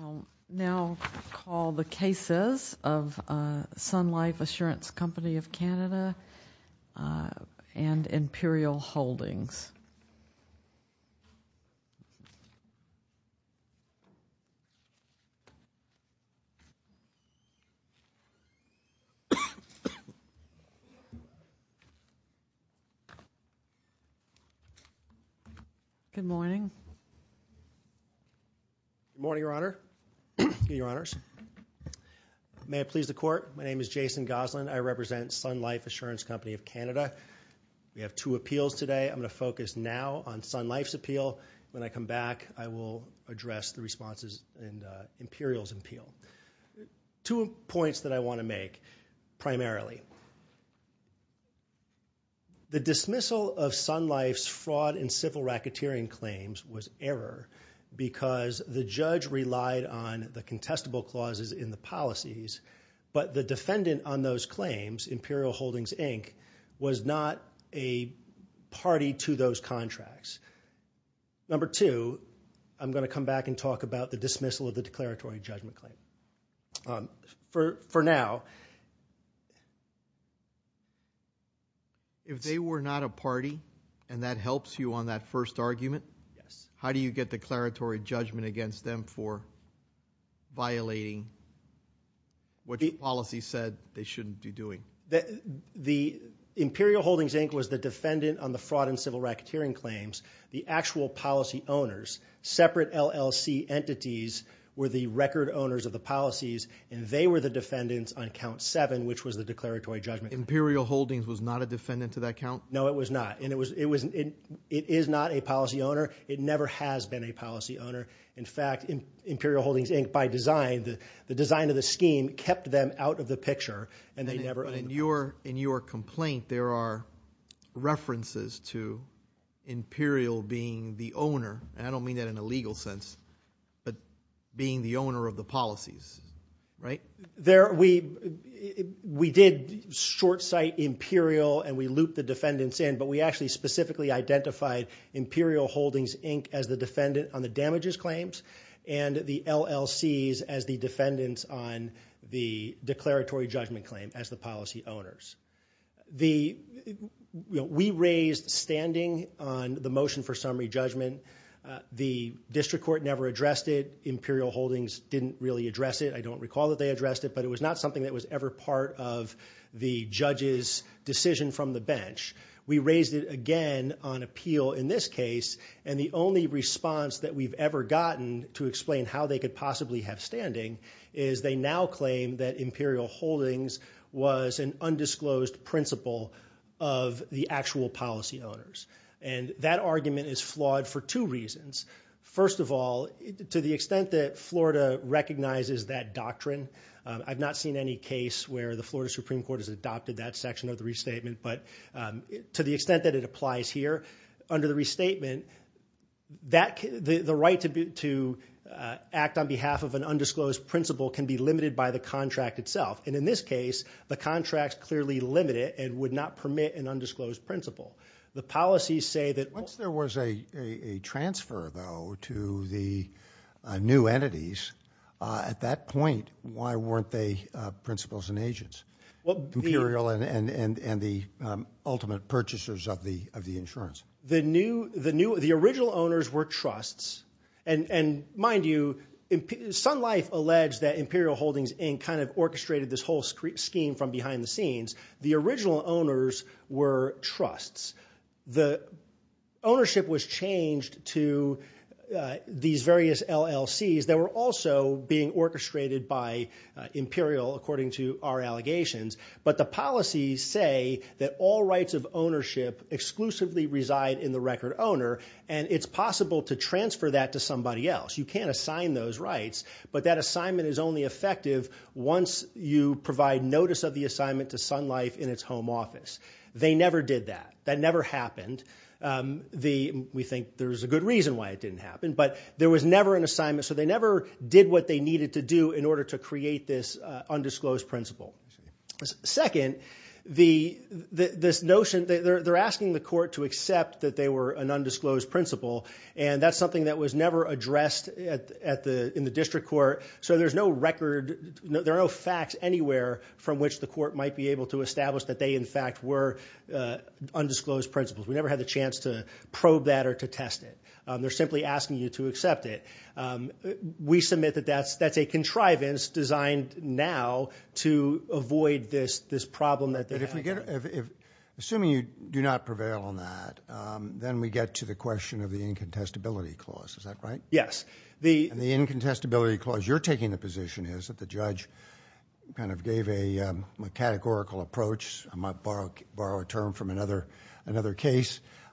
I will now call the cases of Sun Life Assurance Company of Canada and Imperial Holdings. Good morning. Good morning, Your Honor. May I please the court? My name is Jason Gosselin. I represent Sun Life Assurance Company of Canada. We have two appeals today. I'm going to focus now on Sun Life's appeal. When I come back, I will address the responses and Imperial's appeal. Two points that I want to make, primarily. The dismissal of Sun Life's fraud and civil racketeering claims was error because the judge relied on the contestable clauses in the policies, but the defendant on those claims, Imperial Holdings, Inc., was not a party to those contracts. Number two, I'm going to come back and talk about the dismissal of the declaratory judgment claim. For now. If they were not a party, and that helps you on that first argument, how do you get declaratory judgment against them for violating what the policy said they shouldn't be doing? The Imperial Holdings, Inc. was the defendant on the fraud and civil racketeering claims. The actual policy owners, separate LLC entities, were the record owners of the policies. They were the defendants on count seven, which was the declaratory judgment. Imperial Holdings was not a defendant to that count? No, it was not. It is not a policy owner. It never has been a policy owner. In fact, Imperial Holdings, Inc., by design, the design of the scheme kept them out of the picture. In your complaint, there are references to Imperial being the owner. I don't mean that in a legal sense, but being the owner of the policies, right? We did short sight Imperial, and we looped the defendants in, but we actually specifically identified Imperial Holdings, Inc. as the defendant on the damages claims, and the LLCs as the defendants on the declaratory judgment claim as the policy owners. We raised standing on the motion for summary judgment. The district court never addressed it. Imperial Holdings didn't really address it. I don't recall that they addressed it, but it was not something that was ever part of the judge's decision from the bench. We raised it again on appeal in this case, and the only response that we've ever gotten to explain how they could possibly have standing is they now claim that Imperial Holdings was an undisclosed principal of the actual policy owners. That argument is flawed for two reasons. First of all, to the extent that Florida recognizes that doctrine, I've not seen any case where the Florida Supreme Court has adopted that section of the restatement, but to the extent that it applies here, under the restatement, the right to act on behalf of an undisclosed principal can be limited by the contract itself. In this case, the contract is clearly limited and would not permit an undisclosed principal. Once there was a transfer, though, to the new entities, at that point, why weren't they principals and agents? Imperial and the ultimate purchasers of the insurance. The original owners were trusts, and mind you, Sun Life alleged that Imperial Holdings orchestrated this whole scheme from behind the scenes. The original owners were trusts. The ownership was changed to these various LLCs that were also being orchestrated by Imperial, according to our allegations, but the policies say that all rights of ownership exclusively reside in the record owner, and it's possible to transfer that to somebody else. You can't assign those rights, but that assignment is only effective once you provide notice of the assignment to Sun Life in its home office. They never did that. That never happened. We think there's a good reason why it didn't happen, but there was never an assignment, so they never did what they needed to do in order to create this undisclosed principal. Second, they're asking the court to accept that they were an undisclosed principal, and that's something that was never addressed in the district court, so there are no facts anywhere from which the court might be able to establish that they, in fact, were undisclosed principals. We never had the chance to probe that or to test it. They're simply asking you to accept it. We submit that that's a contrivance designed now to avoid this problem that they have. Assuming you do not prevail on that, then we get to the question of the incontestability clause. Is that right?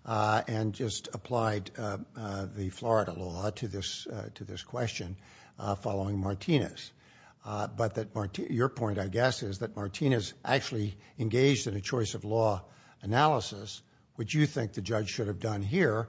and just applied the Florida law to this question following Martinez, but your point, I guess, is that Martinez actually engaged in a choice of law analysis, which you think the judge should have done here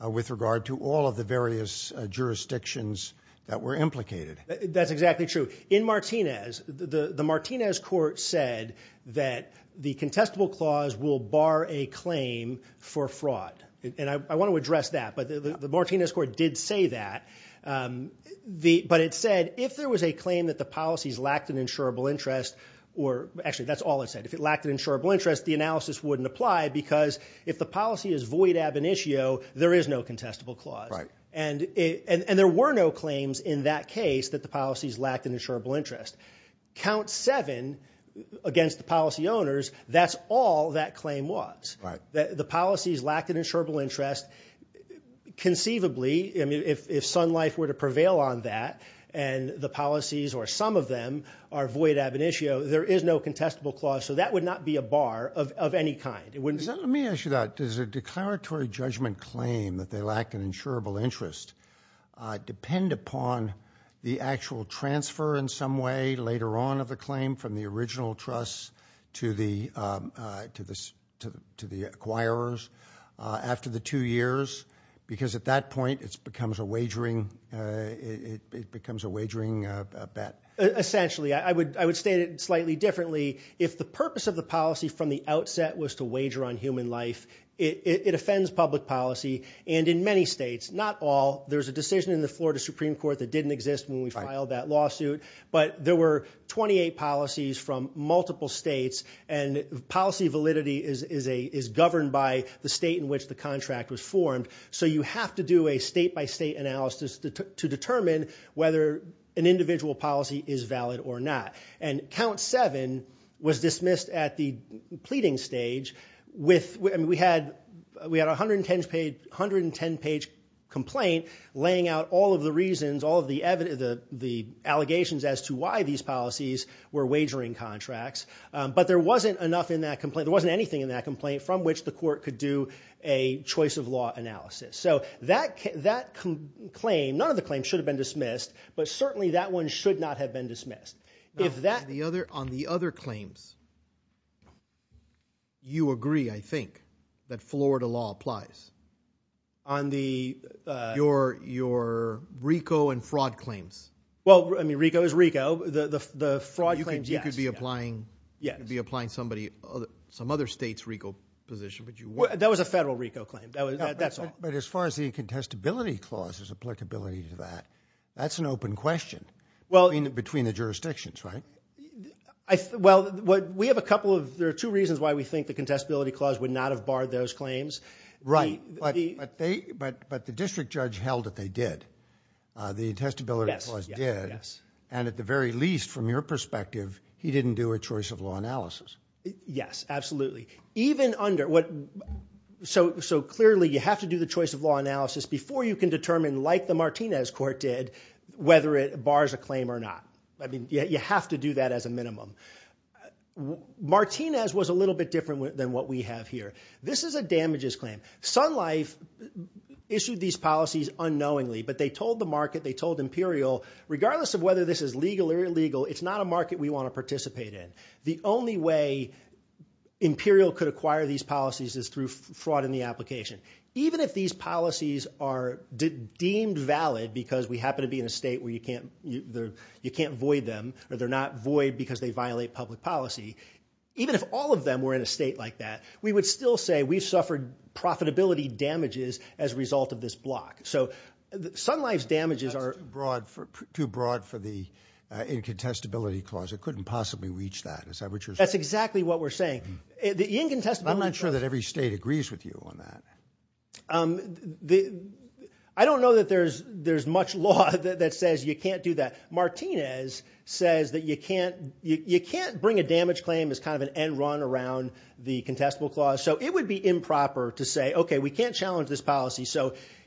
with regard to all of the various jurisdictions that were implicated. That's exactly true. In Martinez, the Martinez court said that the contestable clause will bar a claim for fraud, and I want to address that, but the Martinez court did say that, but it said if there was a claim that the policies lacked an insurable interest, or actually that's all it said, if it lacked an insurable interest, the analysis wouldn't apply because if the policy is void ab initio, there is no contestable clause. And there were no claims in that case that the policies lacked an insurable interest. Count seven against the policy owners, that's all that claim was. The policies lacked an insurable interest, conceivably, if Sun Life were to prevail on that, and the policies or some of them are void ab initio, there is no contestable clause, so that would not be a bar of any kind. Let me ask you that. Does a declaratory judgment claim that they lack an insurable interest depend upon the actual transfer in some way later on of the claim from the original trust to the acquirers after the two years? Because at that point, it becomes a wagering bet. Essentially. I would state it slightly differently. If the purpose of the policy from the outset was to wager on human life, it offends public policy, and in many states, not all, there's a decision in the Florida Supreme Court that didn't exist when we filed that lawsuit, but there were 28 policies from multiple states, and policy validity is governed by the state in which the contract was formed. So you have to do a state by state analysis to determine whether an individual policy is valid or not. And count seven was dismissed at the pleading stage. We had a 110-page complaint laying out all of the reasons, all of the allegations as to why these policies were wagering contracts, but there wasn't enough in that complaint, there wasn't anything in that complaint from which the court could do a choice of law analysis. So that claim, none of the claims should have been dismissed, but certainly that one should not have been dismissed. On the other claims, you agree, I think, that Florida law applies. Your RICO and fraud claims. Well, RICO is RICO. The fraud claims, yes. You could be applying some other state's RICO position. That was a federal RICO claim, that's all. But as far as the contestability clause's applicability to that, that's an open question between the jurisdictions, right? Well, we have a couple of, there are two reasons why we think the contestability clause would not have barred those claims. Right, but the district judge held that they did. The contestability clause did, and at the very least, from your perspective, he didn't do a choice of law analysis. Yes, absolutely. Even under, so clearly you have to do the choice of law analysis before you can determine, like the Martinez court did, whether it bars a claim or not. I mean, you have to do that as a minimum. Martinez was a little bit different than what we have here. This is a damages claim. Sun Life issued these policies unknowingly, but they told the market, they told Imperial, regardless of whether this is legal or illegal, it's not a market we want to participate in. The only way Imperial could acquire these policies is through fraud in the application. Even if these policies are deemed valid because we happen to be in a state where you can't void them, or they're not void because they violate public policy, even if all of them were in a state like that, we would still say we've suffered profitability damages as a result of this block. That's too broad for the incontestability clause. It couldn't possibly reach that. That's exactly what we're saying. I'm not sure that every state agrees with you on that. I don't know that there's much law that says you can't do that. Martinez says that you can't bring a damage claim as kind of an end run around the contestable clause. It would be improper to say, okay, we can't challenge this policy.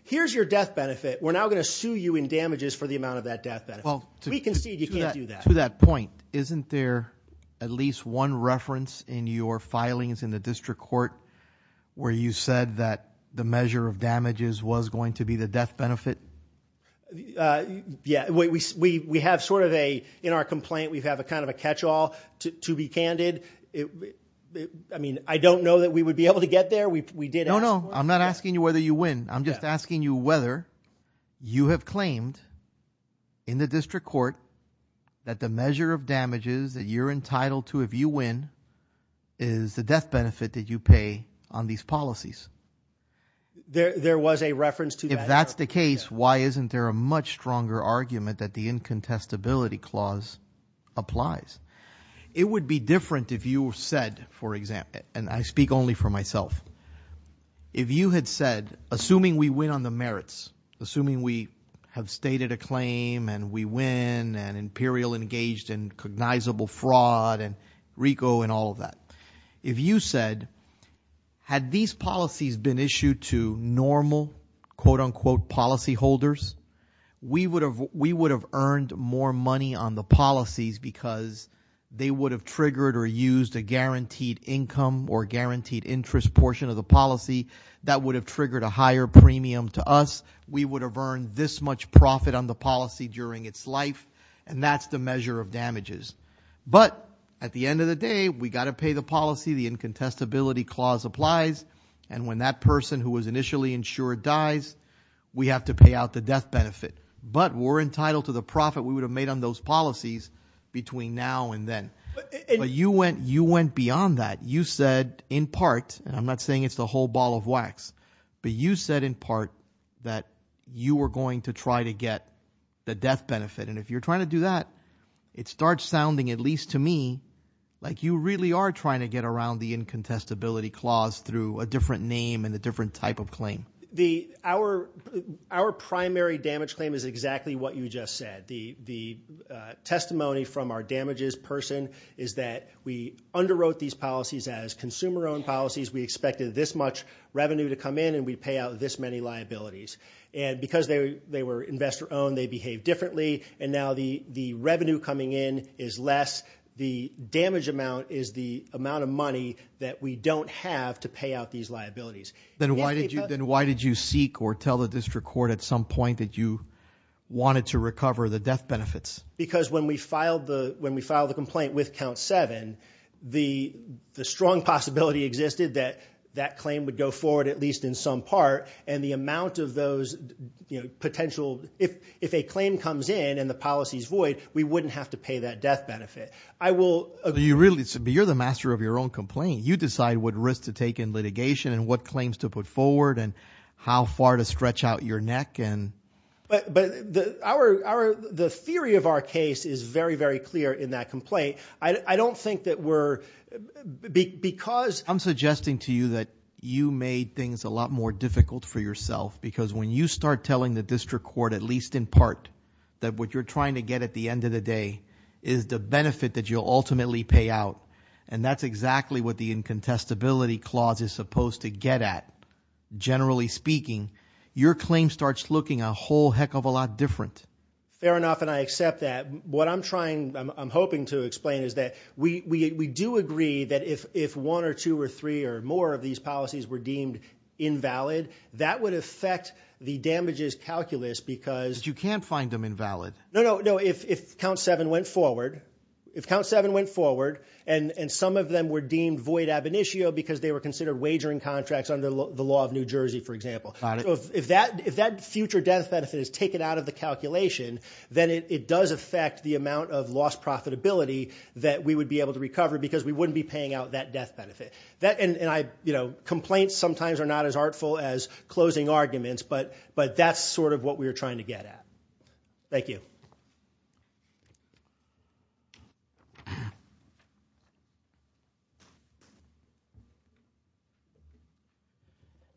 Here's your death benefit. We're now going to sue you in damages for the amount of that death benefit. We concede you can't do that. To that point, isn't there at least one reference in your filings in the district court where you said that the measure of damages was going to be the death benefit? Yeah. We have sort of a, in our complaint, we have kind of a catch-all, to be candid. I mean, I don't know that we would be able to get there. No, no. I'm not asking you whether you win. I'm just asking you whether you have claimed in the district court that the measure of damages that you're entitled to if you win is the death benefit that you pay on these policies. There was a reference to that. If that's the case, why isn't there a much stronger argument that the incontestability clause applies? It would be different if you said, for example, and I speak only for myself, if you had said, assuming we win on the merits, assuming we have stated a claim and we win and Imperial engaged in cognizable fraud and RICO and all of that, if you said, had these policies been issued to normal, quote unquote, policy holders, we would have earned more money on the policies because they would have triggered or used a guaranteed income or guaranteed interest portion of the policy. That would have triggered a higher premium to us. We would have earned this much profit on the policy during its life, and that's the measure of damages. But at the end of the day, we got to pay the policy. The incontestability clause applies. And when that person who was initially insured dies, we have to pay out the death benefit. But we're entitled to the profit we would have made on those policies between now and then. But you went beyond that. You said in part, and I'm not saying it's the whole ball of wax, but you said in part that you were going to try to get the death benefit. And if you're trying to do that, it starts sounding, at least to me, like you really are trying to get around the incontestability clause through a different name and a different type of claim. Our primary damage claim is exactly what you just said. The testimony from our damages person is that we underwrote these policies as consumer-owned policies. We expected this much revenue to come in, and we pay out this many liabilities. And because they were investor-owned, they behaved differently, and now the revenue coming in is less. The damage amount is the amount of money that we don't have to pay out these liabilities. Then why did you seek or tell the district court at some point that you wanted to recover the death benefits? Because when we filed the complaint with Count 7, the strong possibility existed that that claim would go forward at least in some part. And if a claim comes in and the policy is void, we wouldn't have to pay that death benefit. You're the master of your own complaint. You decide what risk to take in litigation and what claims to put forward and how far to stretch out your neck. But the theory of our case is very, very clear in that complaint. I'm suggesting to you that you made things a lot more difficult for yourself, because when you start telling the district court, at least in part, that what you're trying to get at the end of the day is the benefit that you'll ultimately pay out, and that's exactly what the incontestability clause is supposed to get at, generally speaking, your claim starts looking a whole heck of a lot different. Fair enough, and I accept that. What I'm hoping to explain is that we do agree that if one or two or three or more of these policies were deemed invalid, that would affect the damages calculus because... But you can't find them invalid. No, no, no. If Count 7 went forward and some of them were deemed void ab initio because they were considered wagering contracts under the law of New Jersey, for example. Got it. So if that future death benefit is taken out of the calculation, then it does affect the amount of lost profitability that we would be able to recover because we wouldn't be paying out that death benefit. Complaints sometimes are not as artful as closing arguments, but that's sort of what we're trying to get at. Thank you. Thank you.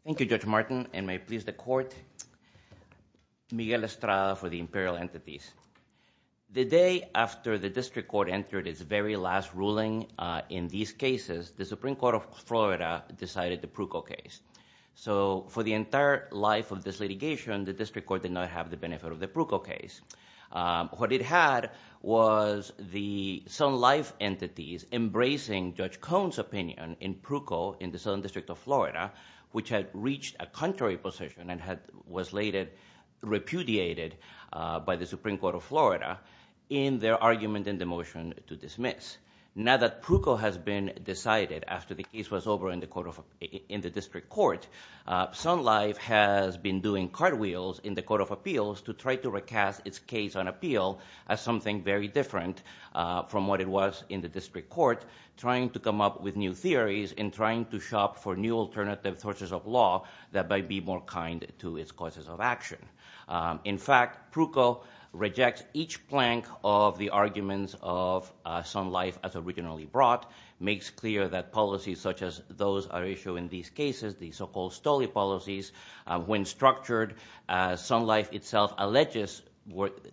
Thank you, Judge Martin, and may it please the court. Miguel Estrada for the Imperial Entities. The day after the district court entered its very last ruling in these cases, the Supreme Court of Florida decided the Pruko case. So for the entire life of this litigation, the district court did not have the benefit of the Pruko case. What it had was the Sun Life entities embracing Judge Cohn's opinion in Pruko in the Southern District of Florida, which had reached a contrary position and was repudiated by the Supreme Court of Florida in their argument in the motion to dismiss. Now that Pruko has been decided after the case was over in the district court, Sun Life has been doing cartwheels in the court of appeals to try to recast its case on appeal as something very different from what it was in the district court, trying to come up with new theories and trying to shop for new alternative sources of law that might be more kind to its causes of action. In fact, Pruko rejects each plank of the arguments of Sun Life as originally brought, makes clear that policies such as those are issued in these cases, the so-called Stolley policies, when structured, Sun Life itself alleges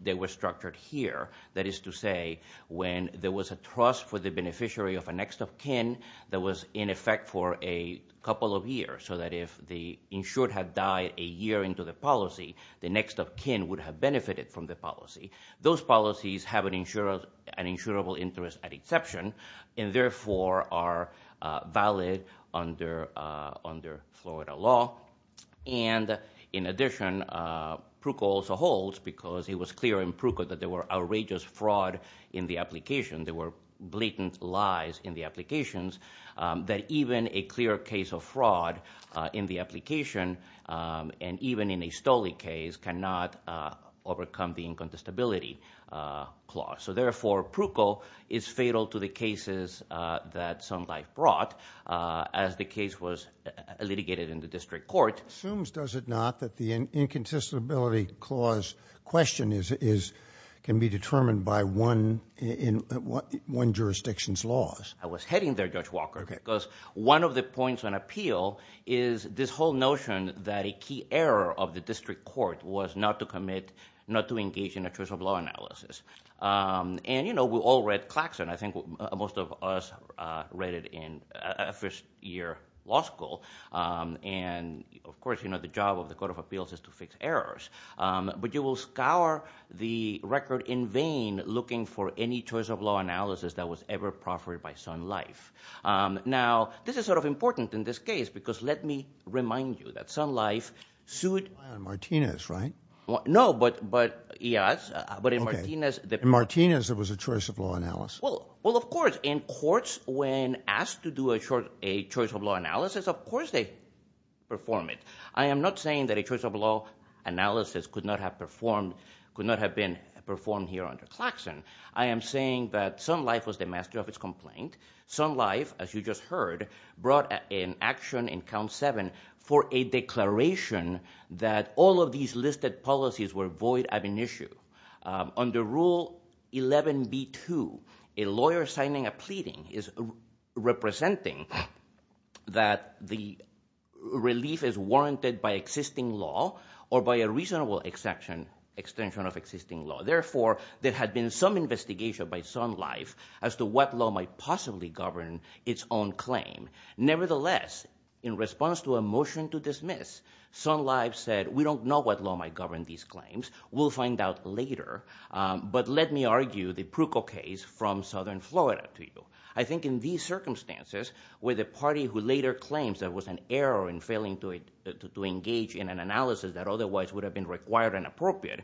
they were structured here. That is to say, when there was a trust for the beneficiary of a next of kin that was in effect for a couple of years, so that if the insured had died a year into the policy, the next of kin would have benefited from the policy. Those policies have an insurable interest at exception and therefore are valid under Florida law. And in addition, Pruko also holds, because it was clear in Pruko that there were outrageous fraud in the application, there were blatant lies in the applications, that even a clear case of fraud in the application, and even in a Stolley case, cannot overcome the incontestability clause. So therefore, Pruko is fatal to the cases that Sun Life brought as the case was litigated in the district court. It assumes, does it not, that the incontestability clause question can be determined by one jurisdiction's laws? I was heading there, Judge Walker, because one of the points on appeal is this whole notion that a key error of the district court was not to commit, not to engage in a choice of law analysis. And, you know, we all read Claxton. I think most of us read it in first year law school. And of course, you know, the job of the Court of Appeals is to fix errors. But you will scour the record in vain looking for any choice of law analysis that was ever proffered by Sun Life. Now, this is sort of important in this case, because let me remind you that Sun Life sued- Martinez, right? No, but, yes, but in Martinez- In Martinez, there was a choice of law analysis. Well, of course, in courts, when asked to do a choice of law analysis, of course they perform it. I am not saying that a choice of law analysis could not have been performed here under Claxton. I am saying that Sun Life was the master of its complaint. Sun Life, as you just heard, brought an action in Count 7 for a declaration that all of these listed policies were void of an issue. Under Rule 11B2, a lawyer signing a pleading is representing that the relief is warranted by existing law or by a reasonable extension of existing law. Therefore, there had been some investigation by Sun Life as to what law might possibly govern its own claim. Nevertheless, in response to a motion to dismiss, Sun Life said, we don't know what law might govern these claims. We'll find out later, but let me argue the Pruco case from southern Florida to you. I think in these circumstances, where the party who later claims there was an error in failing to engage in an analysis that otherwise would have been required and appropriate,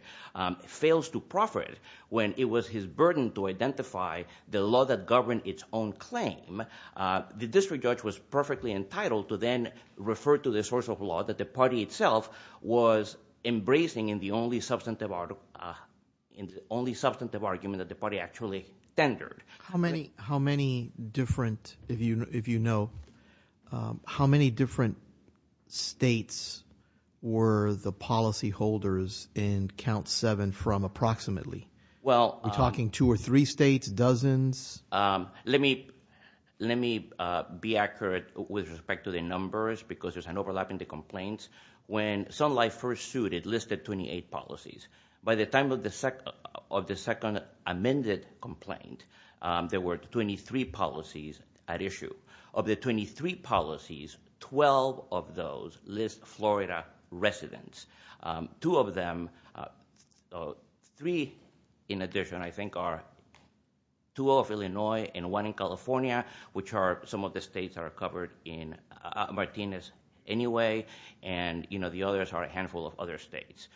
fails to profit when it was his burden to identify the law that governed its own claim, the district judge was perfectly entitled to then refer to the source of law that the party itself was embracing in the only substantive argument that the party actually tendered. How many different, if you know, how many different states were the policy holders in Count 7 from approximately? We're talking two or three states, dozens? Let me be accurate with respect to the numbers because there's an overlap in the complaints. When Sun Life first sued, it listed 28 policies. By the time of the second amended complaint, there were 23 policies at issue. Of the 23 policies, 12 of those list Florida residents. Two of them, three in addition, I think are two of Illinois and one in California, which are some of the states that are covered in Martinez anyway. The others are a handful of other states.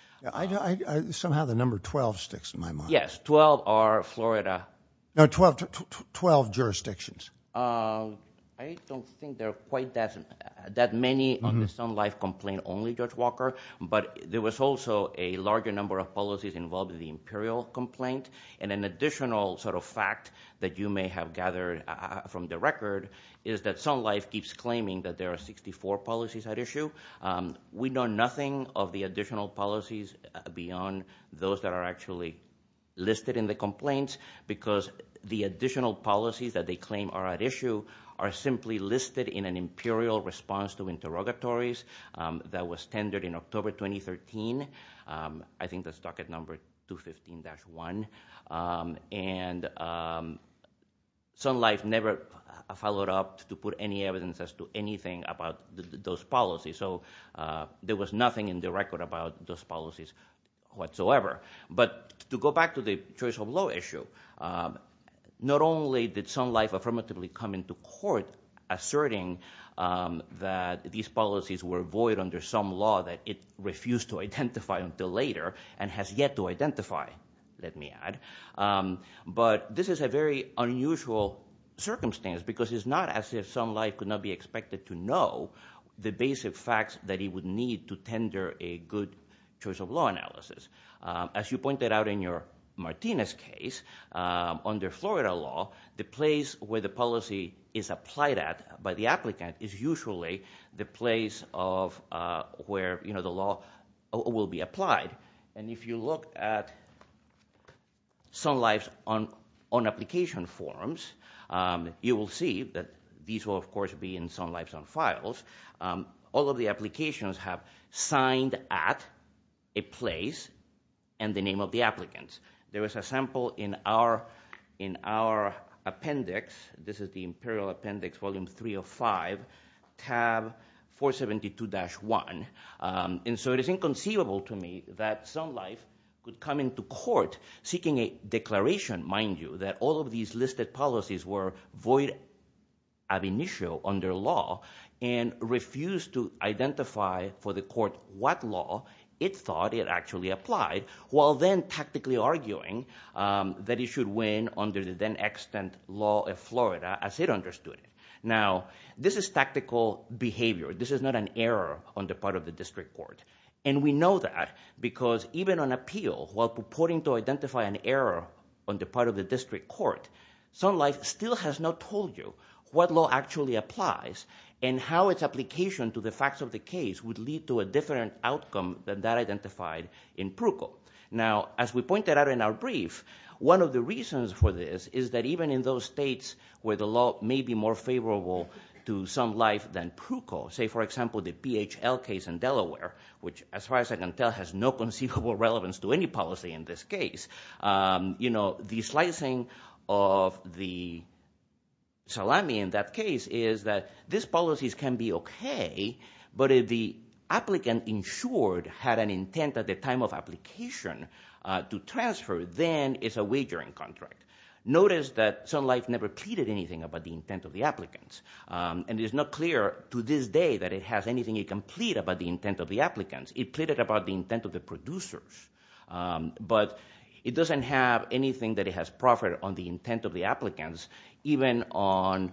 Somehow the number 12 sticks in my mind. Yes, 12 are Florida. No, 12 jurisdictions. I don't think there are quite that many on the Sun Life complaint only, Judge Walker. But there was also a larger number of policies involved in the Imperial complaint. And an additional sort of fact that you may have gathered from the record is that Sun Life keeps claiming that there are 64 policies at issue. We know nothing of the additional policies beyond those that are actually listed in the complaints. Because the additional policies that they claim are at issue are simply listed in an Imperial response to interrogatories that was tendered in October 2013. I think that's docket number 215-1. And Sun Life never followed up to put any evidence as to anything about those policies. So there was nothing in the record about those policies whatsoever. But to go back to the choice of law issue, not only did Sun Life affirmatively come into court asserting that these policies were void under some law that it refused to identify until later and has yet to identify. Let me add. But this is a very unusual circumstance because it's not as if Sun Life could not be expected to know the basic facts that he would need to tender a good choice of law analysis. As you pointed out in your Martinez case, under Florida law, the place where the policy is applied at by the applicant is usually the place of where the law will be applied. And if you look at Sun Life's own application forms, you will see that these will, of course, be in Sun Life's own files. All of the applications have signed at a place and the name of the applicant. There was a sample in our appendix. This is the Imperial Appendix, Volume 305, tab 472-1. And so it is inconceivable to me that Sun Life could come into court seeking a declaration, mind you, that all of these listed policies were void ad initio under law and refused to identify for the court what law it thought it actually applied, while then tactically arguing that it should win under the then extant law of Florida as it understood it. Now, this is tactical behavior. This is not an error on the part of the district court. And we know that because even on appeal, while purporting to identify an error on the part of the district court, Sun Life still has not told you what law actually applies and how its application to the facts of the case would lead to a different outcome than that identified in Pruco. Now, as we pointed out in our brief, one of the reasons for this is that even in those states where the law may be more favorable to Sun Life than Pruco, say, for example, the BHL case in Delaware, which, as far as I can tell, has no conceivable relevance to any policy in this case, you know, the slicing of the salami in that case is that these policies can be okay, but if the applicant insured had an intent at the time of application to transfer, then it's a wagering contract. Notice that Sun Life never pleaded anything about the intent of the applicants. And it is not clear to this day that it has anything it can plead about the intent of the applicants. It pleaded about the intent of the producers. But it doesn't have anything that it has proffered on the intent of the applicants, even on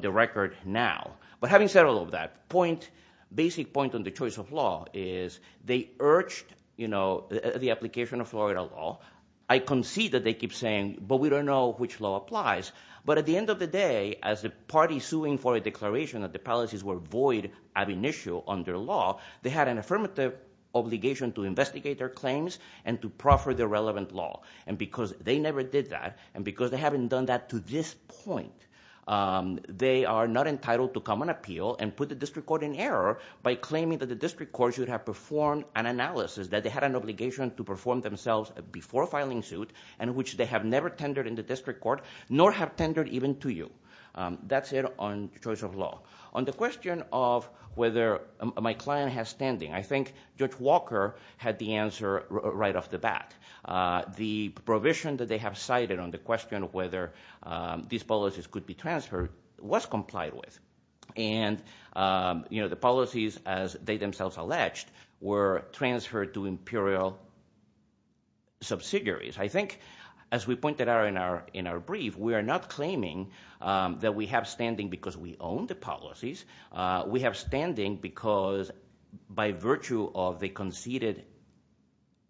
the record now. But having said all of that, point, basic point on the choice of law is they urged, you know, the application of Florida law. I concede that they keep saying, but we don't know which law applies. But at the end of the day, as the party suing for a declaration that the policies were void at initial under law, they had an affirmative obligation to investigate their claims and to proffer the relevant law. And because they never did that, and because they haven't done that to this point, they are not entitled to come and appeal and put the district court in error by claiming that the district court should have performed an analysis, that they had an obligation to perform themselves before filing suit, and which they have never tendered in the district court, nor have tendered even to you. That's it on choice of law. On the question of whether my client has standing, I think Judge Walker had the answer right off the bat. The provision that they have cited on the question of whether these policies could be transferred was complied with. And the policies, as they themselves alleged, were transferred to imperial subsidiaries. I think, as we pointed out in our brief, we are not claiming that we have standing because we own the policies. We have standing because by virtue of the conceded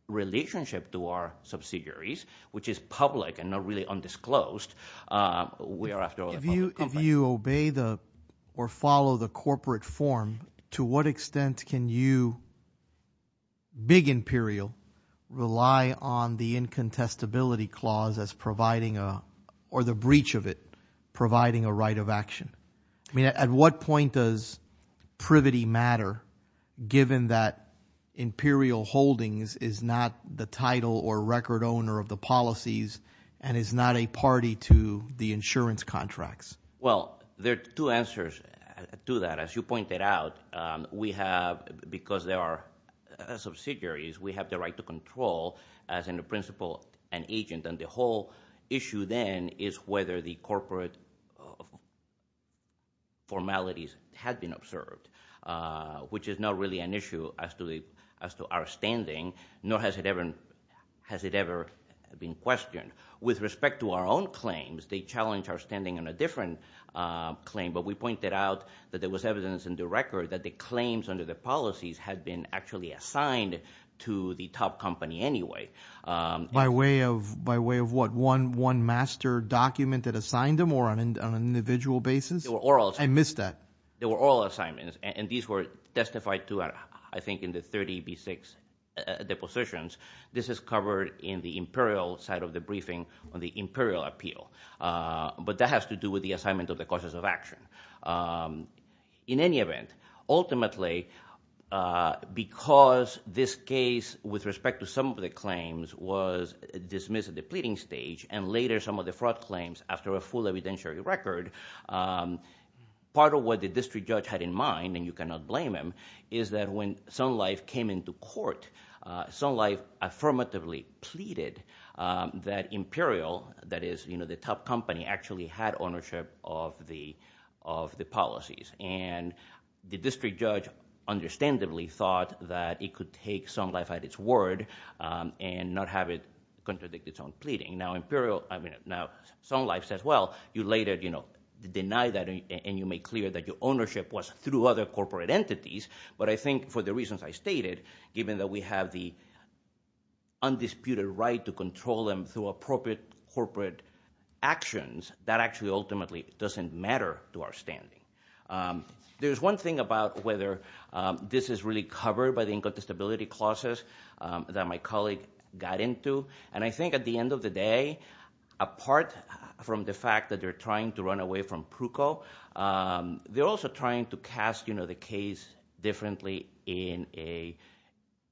relationship to our subsidiaries, which is public and not really undisclosed, we are after all a public company. If you obey or follow the corporate form, to what extent can you, big imperial, rely on the incontestability clause as providing or the breach of it providing a right of action? I mean, at what point does privity matter, given that imperial holdings is not the title or record owner of the policies and is not a party to the insurance contracts? Well, there are two answers to that. As you pointed out, we have, because they are subsidiaries, we have the right to control, as in the principle, an agent. And the whole issue then is whether the corporate formalities have been observed, which is not really an issue as to our standing, nor has it ever been questioned. With respect to our own claims, they challenge our standing on a different claim, but we pointed out that there was evidence in the record that the claims under the policies had been actually assigned to the top company anyway. By way of what, one master document that assigned them, or on an individual basis? I missed that. There were oral assignments, and these were testified to, I think, in the 30B6 depositions. This is covered in the imperial side of the briefing on the imperial appeal. But that has to do with the assignment of the causes of action. In any event, ultimately, because this case, with respect to some of the claims, was dismissed at the pleading stage, and later some of the fraud claims after a full evidentiary record, part of what the district judge had in mind, and you cannot blame him, is that when Sun Life came into court, Sun Life affirmatively pleaded that Imperial, that is the top company, actually had ownership of the policies, and the district judge understandably thought that it could take Sun Life at its word and not have it contradict its own pleading. Now, Sun Life says, well, you later denied that, and you made clear that your ownership was through other corporate entities, but I think for the reasons I stated, given that we have the undisputed right to control them through appropriate corporate actions, that actually ultimately doesn't matter to our standing. There's one thing about whether this is really covered by the incontestability clauses that my colleague got into, and I think at the end of the day, apart from the fact that they're trying to run away from Pruko, they're also trying to cast the case differently in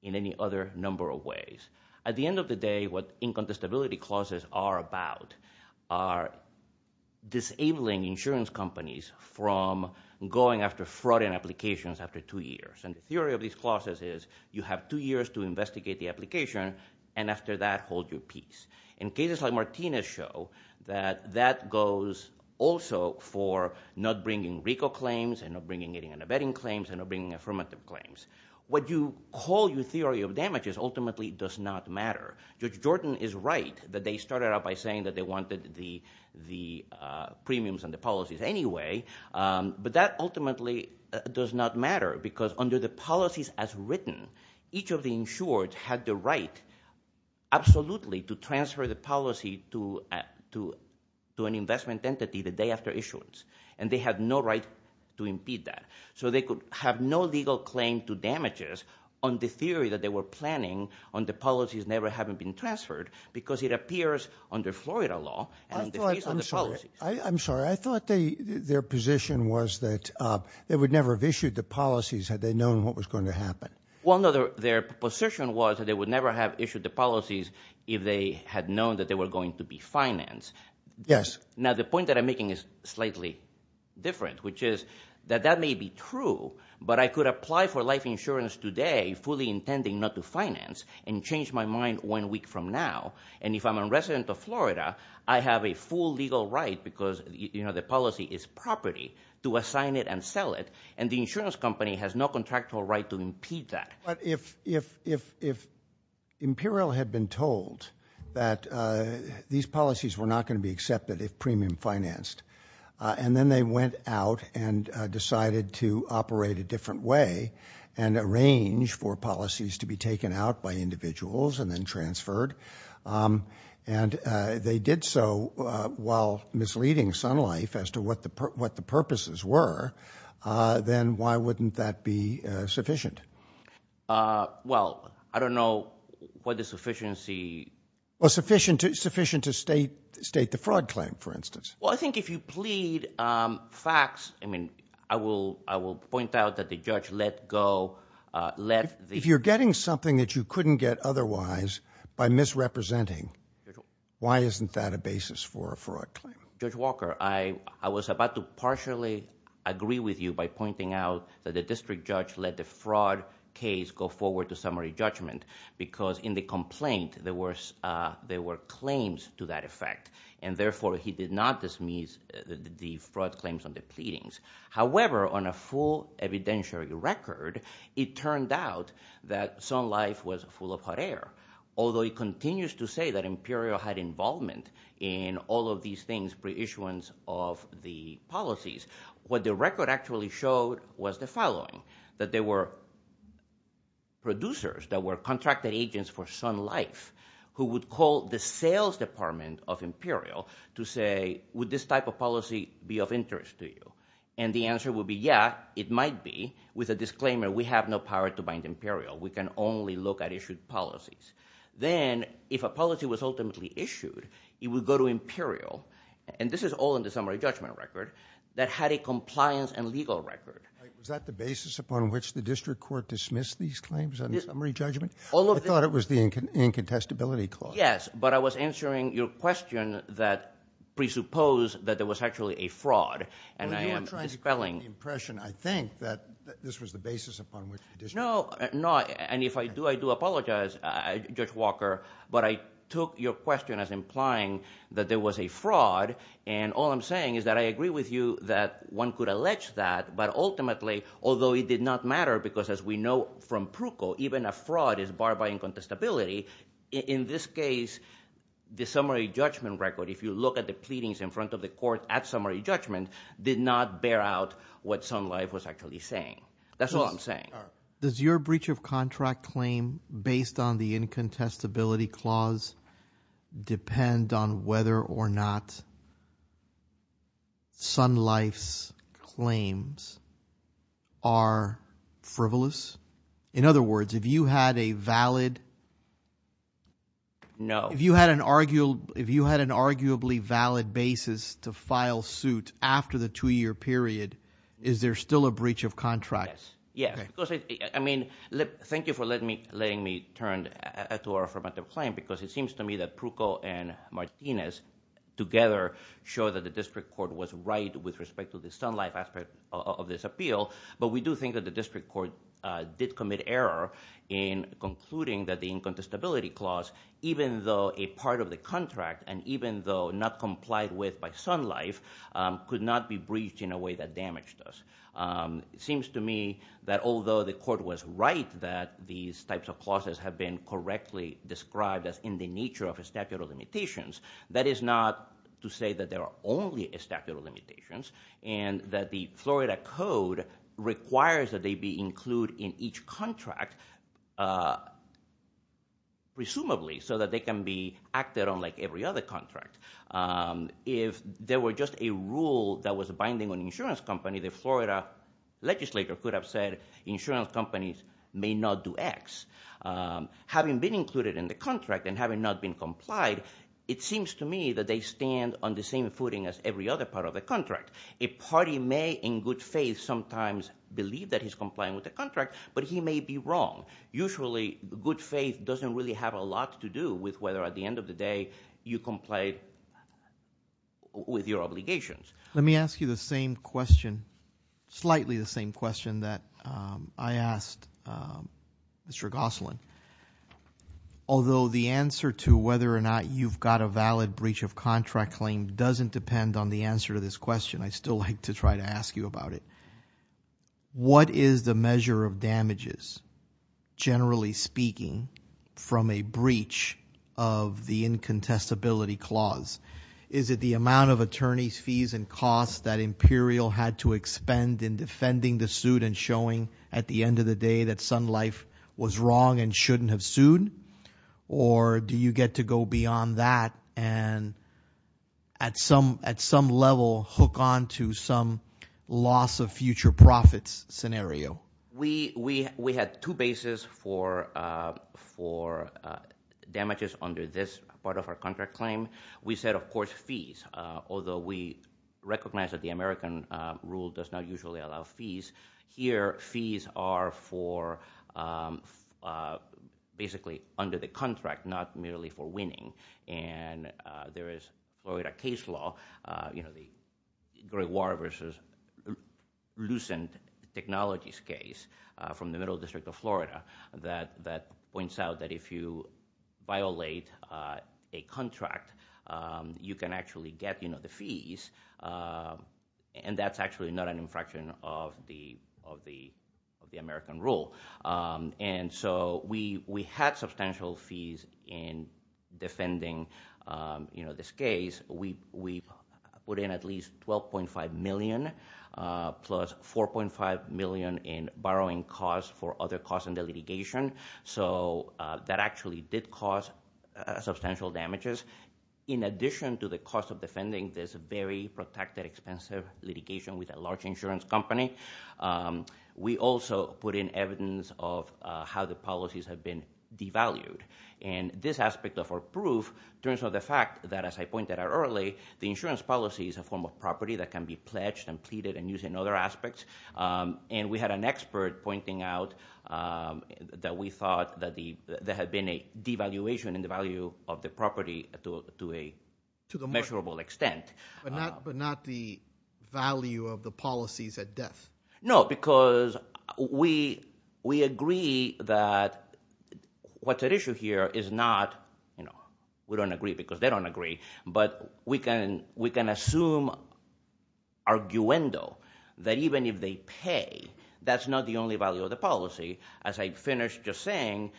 any other number of ways. At the end of the day, what incontestability clauses are about are disabling insurance companies from going after fraud in applications after two years, and the theory of these clauses is you have two years to investigate the application, and after that, hold your peace. In cases like Martina's show, that that goes also for not bringing RICO claims and not bringing any vetting claims and not bringing affirmative claims. What you call your theory of damages ultimately does not matter. Judge Jordan is right that they started out by saying that they wanted the premiums and the policies anyway, but that ultimately does not matter because under the policies as written, each of the insured had the right absolutely to transfer the policy to an investment entity the day after issuance, and they had no right to impede that. So they could have no legal claim to damages on the theory that they were planning on the policies never having been transferred because it appears under Florida law and the fees on the policies. I'm sorry. I thought their position was that they would never have issued the policies had they known what was going to happen. Well, no, their position was that they would never have issued the policies if they had known that they were going to be financed. Yes. Now, the point that I'm making is slightly different, which is that that may be true, but I could apply for life insurance today fully intending not to finance and change my mind one week from now, and if I'm a resident of Florida, I have a full legal right because, you know, the policy is property to assign it and sell it, and the insurance company has no contractual right to impede that. But if Imperial had been told that these policies were not going to be accepted if premium financed and then they went out and decided to operate a different way and arrange for policies to be taken out by individuals and then transferred and they did so while misleading Sun Life as to what the purposes were, then why wouldn't that be sufficient? Well, I don't know what the sufficiency. Well, sufficient to state the fraud claim, for instance. Well, I think if you plead facts, I mean, I will point out that the judge let go. If you're getting something that you couldn't get otherwise by misrepresenting, why isn't that a basis for a fraud claim? Judge Walker, I was about to partially agree with you by pointing out that the district judge let the fraud case go forward to summary judgment because in the complaint there were claims to that effect, and therefore he did not dismiss the fraud claims on the pleadings. However, on a full evidentiary record, it turned out that Sun Life was full of hot air. Although he continues to say that Imperial had involvement in all of these things, pre-issuance of the policies, what the record actually showed was the following, that there were producers that were contracted agents for Sun Life who would call the sales department of Imperial to say, would this type of policy be of interest to you? And the answer would be, yeah, it might be, with a disclaimer, we have no power to bind Imperial. We can only look at issued policies. Then if a policy was ultimately issued, it would go to Imperial, and this is all in the summary judgment record, that had a compliance and legal record. Was that the basis upon which the district court dismissed these claims on the summary judgment? I thought it was the incontestability clause. Yes, but I was answering your question that presupposed that there was actually a fraud, and I am dispelling. You know, I'm trying to get the impression, I think, that this was the basis upon which the district court. No, and if I do, I do apologize, Judge Walker, but I took your question as implying that there was a fraud, and all I'm saying is that I agree with you that one could allege that, but ultimately, although it did not matter, because as we know from Pruko, even a fraud is barred by incontestability. In this case, the summary judgment record, if you look at the pleadings in front of the court at summary judgment, did not bear out what Sun Life was actually saying. That's all I'm saying. Does your breach of contract claim based on the incontestability clause depend on whether or not Sun Life's claims are frivolous? In other words, if you had a valid- No. If you had an arguably valid basis to file suit after the two-year period, is there still a breach of contract? Yes. Thank you for letting me turn to our affirmative claim, because it seems to me that Pruko and Martinez together show that the district court was right with respect to the Sun Life aspect of this appeal, but we do think that the district court did commit error in concluding that the incontestability clause, even though a part of the contract, and even though not complied with by Sun Life, could not be breached in a way that damaged us. It seems to me that although the court was right that these types of clauses have been correctly described as in the nature of a statute of limitations, that is not to say that there are only a statute of limitations, and that the Florida code requires that they be included in each contract, presumably, so that they can be acted on like every other contract. If there were just a rule that was binding on the insurance company, the Florida legislature could have said, insurance companies may not do X. Having been included in the contract and having not been complied, it seems to me that they stand on the same footing as every other part of the contract. A party may, in good faith, sometimes believe that he's complying with the contract, but he may be wrong. Usually, good faith doesn't really have a lot to do with whether, at the end of the day, you complied with your obligations. Let me ask you the same question, slightly the same question that I asked Mr. Gosselin. Although the answer to whether or not you've got a valid breach of contract claim doesn't depend on the answer to this question, I'd still like to try to ask you about it. What is the measure of damages, generally speaking, from a breach of the incontestability clause? Is it the amount of attorneys' fees and costs that Imperial had to expend in defending the suit and showing, at the end of the day, that Sun Life was wrong and shouldn't have sued? Or do you get to go beyond that and, at some level, hook on to some loss of future profits scenario? We had two bases for damages under this part of our contract claim. We said, of course, fees, although we recognize that the American rule does not usually allow fees. Here, fees are for basically under the contract, not merely for winning. There is Florida case law, the Great War versus Lucent Technologies case from the Middle District of Florida, that points out that if you violate a contract, you can actually get the fees. That's actually not an infraction of the American rule. We had substantial fees in defending this case. We put in at least $12.5 million plus $4.5 million in borrowing costs for other costs in the litigation. That actually did cause substantial damages. In addition to the cost of defending this very protected, expensive litigation with a large insurance company, we also put in evidence of how the policies have been devalued. This aspect of our proof turns out the fact that, as I pointed out earlier, the insurance policy is a form of property that can be pledged and pleaded and used in other aspects. And we had an expert pointing out that we thought that there had been a devaluation in the value of the property to a measurable extent. But not the value of the policies at death. No, because we agree that what's at issue here is not, we don't agree because they don't agree, but we can assume arguendo that even if they pay, that's not the only value of the policy. As I finished just saying,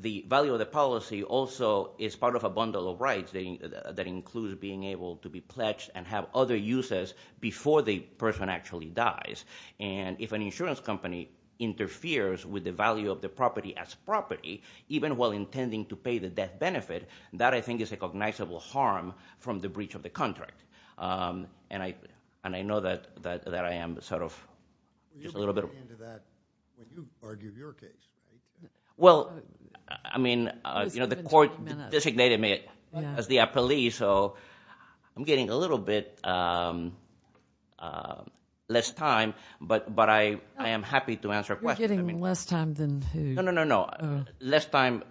the value of the policy also is part of a bundle of rights that includes being able to be pledged and have other uses before the person actually dies. And if an insurance company interferes with the value of the property as property, even while intending to pay the death benefit, that I think is a cognizable harm from the breach of the contract. And I know that I am sort of just a little bit... You argued your case. Well, I mean, you know, the court designated me as the appellee, so I'm getting a little bit less time, but I am happy to answer questions. You're getting less time than who? No, no, no, no. Less time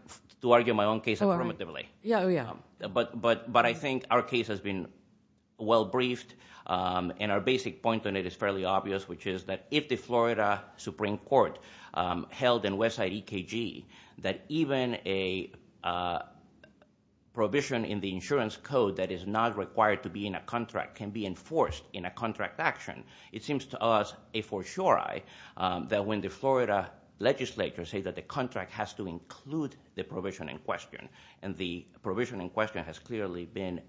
to argue my own case affirmatively. Oh, yeah. But I think our case has been well briefed, and our basic point on it is fairly obvious, which is that if the Florida Supreme Court held in Westside EKG that even a provision in the insurance code that is not required to be in a contract can be enforced in a contract action, it seems to us a fortiori that when the Florida legislature say that the contract has to include the provision in question, and the provision in question has clearly been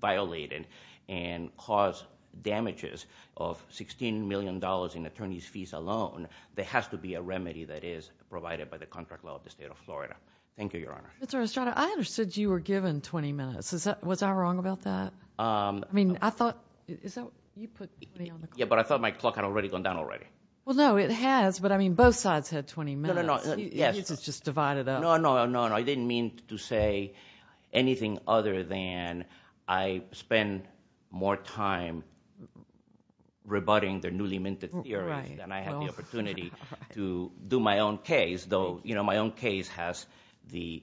violated and caused damages of $16 million in attorney's fees alone, there has to be a remedy that is provided by the contract law of the state of Florida. Thank you, Your Honor. Mr. Estrada, I understood you were given 20 minutes. Was I wrong about that? I mean, I thought you put me on the clock. Yeah, but I thought my clock had already gone down already. Well, no, it has, but, I mean, both sides had 20 minutes. No, no, no. You just divided up. No, no, no, no. I didn't mean to say anything other than I spend more time rebutting their newly minted theorem than I had the opportunity to do my own case, though my own case has the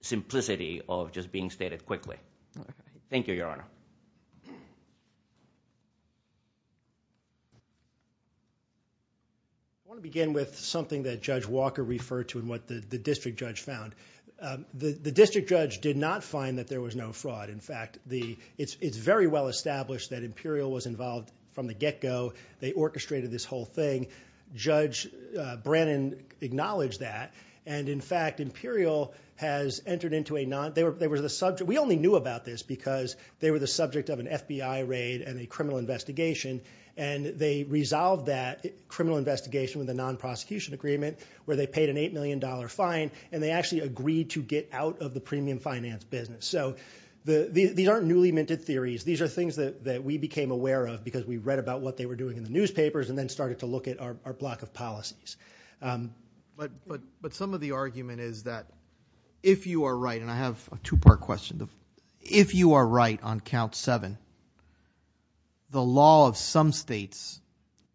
simplicity of just being stated quickly. Thank you, Your Honor. I want to begin with something that Judge Walker referred to and what the district judge found. The district judge did not find that there was no fraud. In fact, it's very well established that Imperial was involved from the get-go. They orchestrated this whole thing. Judge Brennan acknowledged that. And, in fact, Imperial has entered into a non- We only knew about this because they were the subject of an FBI raid and a criminal investigation, and they resolved that criminal investigation with a non-prosecution agreement where they paid an $8 million fine, and they actually agreed to get out of the premium finance business. So these aren't newly minted theories. These are things that we became aware of because we read about what they were doing in the newspapers and then started to look at our block of policies. But some of the argument is that if you are right, and I have a two-part question. If you are right on Count 7, the law of some states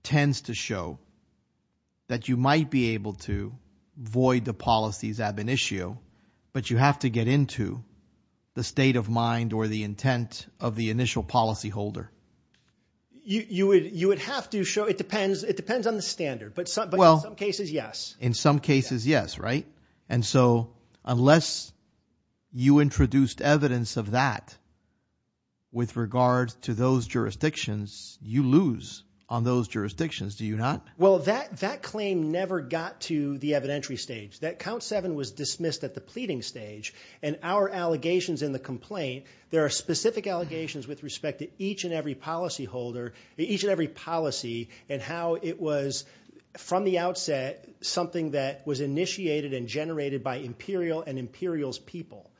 tends to show that you might be able to void the policies ab initio, but you have to get into the state of mind or the intent of the initial policyholder. You would have to show it depends on the standard, but in some cases, yes. In some cases, yes, right? And so unless you introduced evidence of that with regard to those jurisdictions, you lose on those jurisdictions, do you not? Well, that claim never got to the evidentiary stage. That Count 7 was dismissed at the pleading stage, and our allegations in the complaint, there are specific allegations with respect to each and every policyholder, each and every policy and how it was from the outset something that was initiated and generated by Imperial and Imperial's people.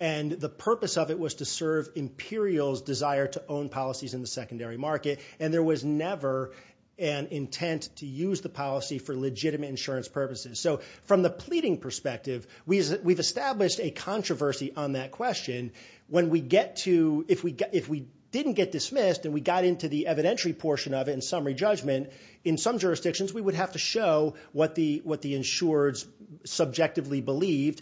And the purpose of it was to serve Imperial's desire to own policies in the secondary market, and there was never an intent to use the policy for legitimate insurance purposes. So from the pleading perspective, we've established a controversy on that question and when we get to, if we didn't get dismissed and we got into the evidentiary portion of it in summary judgment, in some jurisdictions we would have to show what the insureds subjectively believed.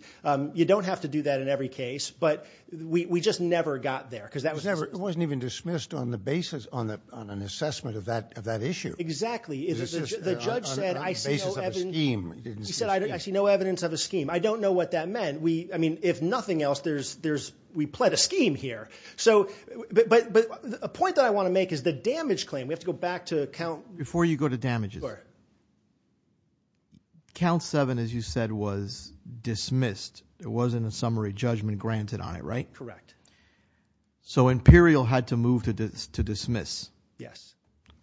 You don't have to do that in every case, but we just never got there. It wasn't even dismissed on an assessment of that issue. Exactly. The judge said I see no evidence of a scheme. I don't know what that meant. I mean, if nothing else, we pled a scheme here. But a point that I want to make is the damage claim. We have to go back to count. Before you go to damages, count seven, as you said, was dismissed. There wasn't a summary judgment granted on it, right? Correct. So Imperial had to move to dismiss. Yes.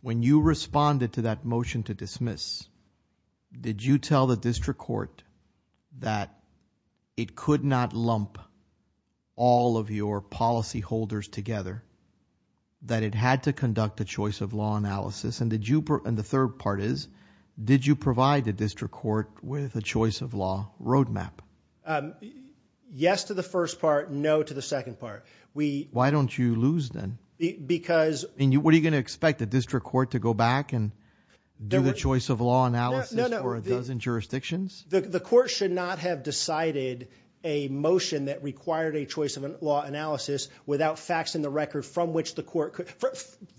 When you responded to that motion to dismiss, did you tell the district court that it could not lump all of your policyholders together, that it had to conduct a choice of law analysis, and the third part is, did you provide the district court with a choice of law roadmap? Yes to the first part, no to the second part. Why don't you lose then? What are you going to expect? The district court to go back and do the choice of law analysis for a dozen jurisdictions? The court should not have decided a motion that required a choice of law analysis without facts in the record from which the court could.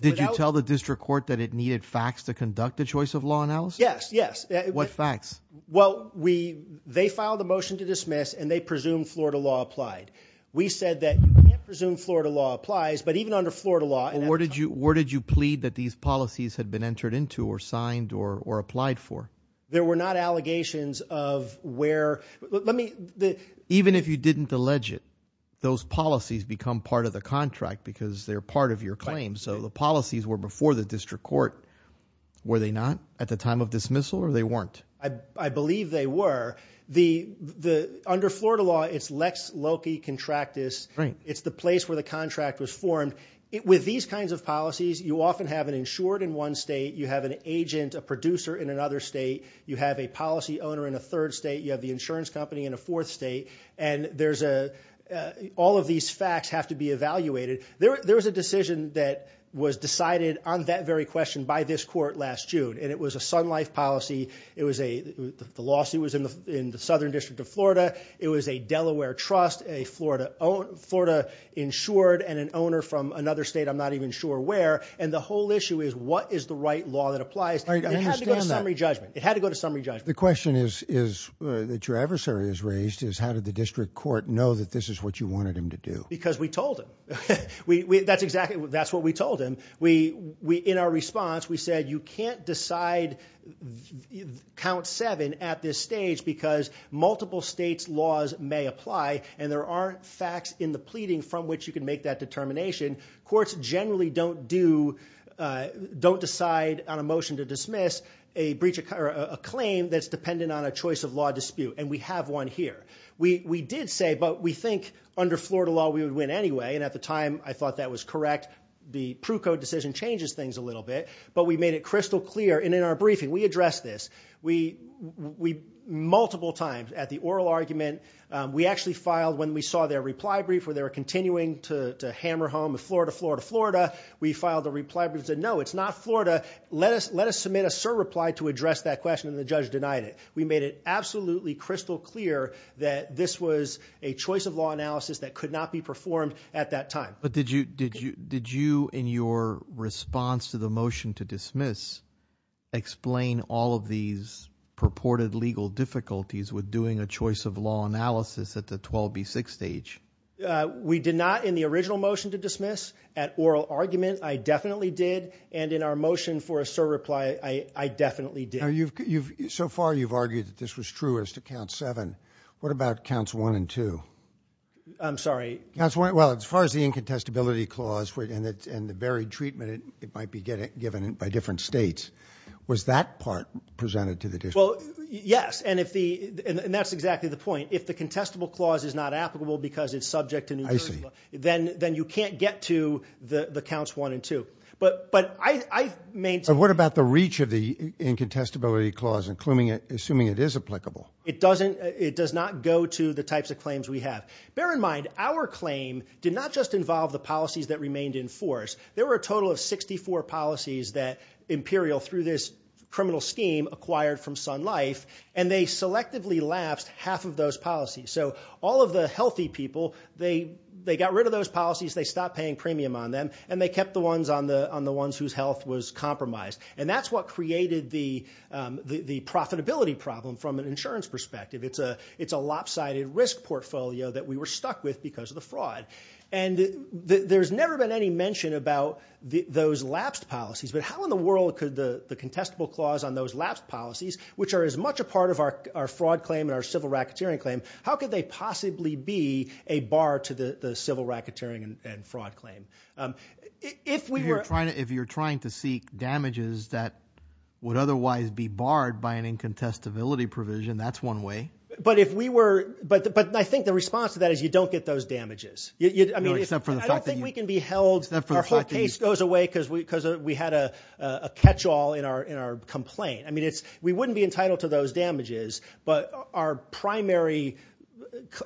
Did you tell the district court that it needed facts to conduct a choice of law analysis? Yes. What facts? Well, they filed a motion to dismiss, and they presumed Florida law applied. We said that you can't presume Florida law applies, but even under Florida law. Where did you plead that these policies had been entered into or signed or applied for? There were not allegations of where. Let me. Even if you didn't allege it, those policies become part of the contract because they're part of your claim, so the policies were before the district court. Were they not at the time of dismissal, or they weren't? I believe they were. Under Florida law, it's lex loci contractus. It's the place where the contract was formed. With these kinds of policies, you often have an insured in one state, you have an agent, a producer in another state, you have a policy owner in a third state, you have the insurance company in a fourth state, and all of these facts have to be evaluated. There was a decision that was decided on that very question by this court last June, and it was a Sun Life policy. The lawsuit was in the Southern District of Florida. It was a Delaware trust, a Florida insured and an owner from another state, I'm not even sure where, and the whole issue is what is the right law that applies. I understand that. It had to go to summary judgment. The question that your adversary has raised is how did the district court know that this is what you wanted him to do? Because we told him. That's exactly what we told him. In our response, we said you can't decide count seven at this stage because multiple states' laws may apply, and there aren't facts in the pleading from which you can make that determination. Courts generally don't decide on a motion to dismiss a claim that's dependent on a choice of law dispute, and we have one here. We did say, but we think under Florida law we would win anyway, and at the time I thought that was correct. The Proof Code decision changes things a little bit, but we made it crystal clear, and in our briefing we addressed this multiple times at the oral argument. We actually filed when we saw their reply brief where they were continuing to hammer home Florida, Florida, Florida. We filed the reply brief and said no, it's not Florida. Let us submit a cert reply to address that question, and the judge denied it. We made it absolutely crystal clear that this was a choice of law analysis that could not be performed at that time. But did you in your response to the motion to dismiss explain all of these purported legal difficulties with doing a choice of law analysis at the 12B6 stage? We did not in the original motion to dismiss at oral argument. I definitely did, and in our motion for a cert reply I definitely did. So far you've argued that this was true as to count seven. What about counts one and two? I'm sorry? As far as the incontestability clause and the varied treatment it might be given by different states, was that part presented to the district? Yes, and that's exactly the point. If the contestable clause is not applicable because it's subject to New Jersey law, then you can't get to the counts one and two. But what about the reach of the incontestability clause, assuming it is applicable? It does not go to the types of claims we have. Bear in mind, our claim did not just involve the policies that remained in force. There were a total of 64 policies that Imperial, through this criminal scheme, acquired from Sun Life, and they selectively lapsed half of those policies. So all of the healthy people, they got rid of those policies, they stopped paying premium on them, and they kept the ones whose health was compromised. And that's what created the profitability problem from an insurance perspective. It's a lopsided risk portfolio that we were stuck with because of the fraud. And there's never been any mention about those lapsed policies, but how in the world could the contestable clause on those lapsed policies, which are as much a part of our fraud claim and our civil racketeering claim, how could they possibly be a bar to the civil racketeering and fraud claim? If you're trying to seek damages that would otherwise be barred by an incontestability provision, that's one way. But if we were – but I think the response to that is you don't get those damages. I mean, I don't think we can be held – our whole case goes away because we had a catch-all in our complaint. I mean, we wouldn't be entitled to those damages, but our primary –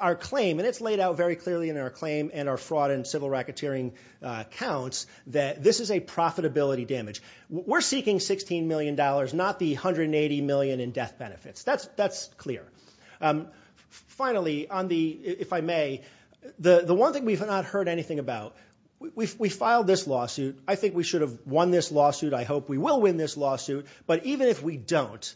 our claim – and it's laid out very clearly in our claim and our fraud and civil racketeering accounts that this is a profitability damage. We're seeking $16 million, not the $180 million in death benefits. That's clear. Finally, on the – if I may, the one thing we've not heard anything about, we filed this lawsuit. I think we should have won this lawsuit. I hope we will win this lawsuit. But even if we don't,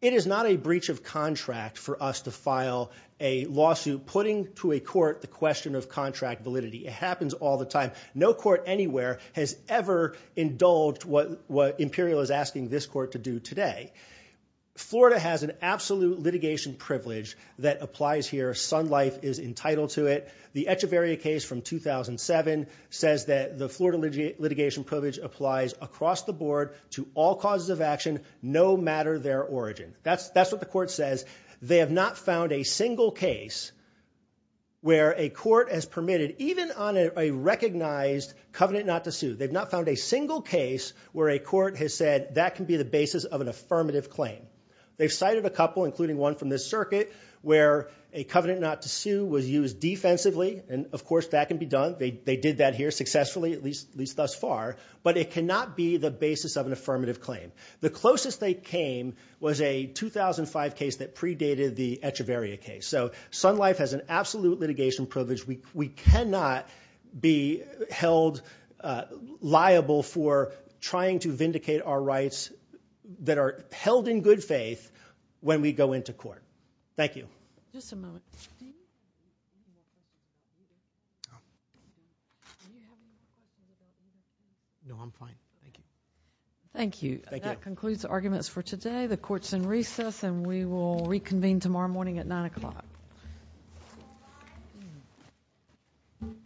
it is not a breach of contract for us to file a lawsuit putting to a court the question of contract validity. It happens all the time. No court anywhere has ever indulged what Imperial is asking this court to do today. Florida has an absolute litigation privilege that applies here. Sun Life is entitled to it. The Echeverria case from 2007 says that the Florida litigation privilege applies across the board to all causes of action no matter their origin. That's what the court says. They have not found a single case where a court has permitted, even on a recognized covenant not to sue, they've not found a single case where a court has said, that can be the basis of an affirmative claim. They've cited a couple, including one from this circuit, where a covenant not to sue was used defensively. And, of course, that can be done. They did that here successfully, at least thus far. But it cannot be the basis of an affirmative claim. The closest they came was a 2005 case that predated the Echeverria case. So Sun Life has an absolute litigation privilege. We cannot be held liable for trying to vindicate our rights that are held in good faith when we go into court. Thank you. Just a moment. Thank you. That concludes the arguments for today. The court is in recess and we will reconvene tomorrow morning at 9 o'clock. Thank you.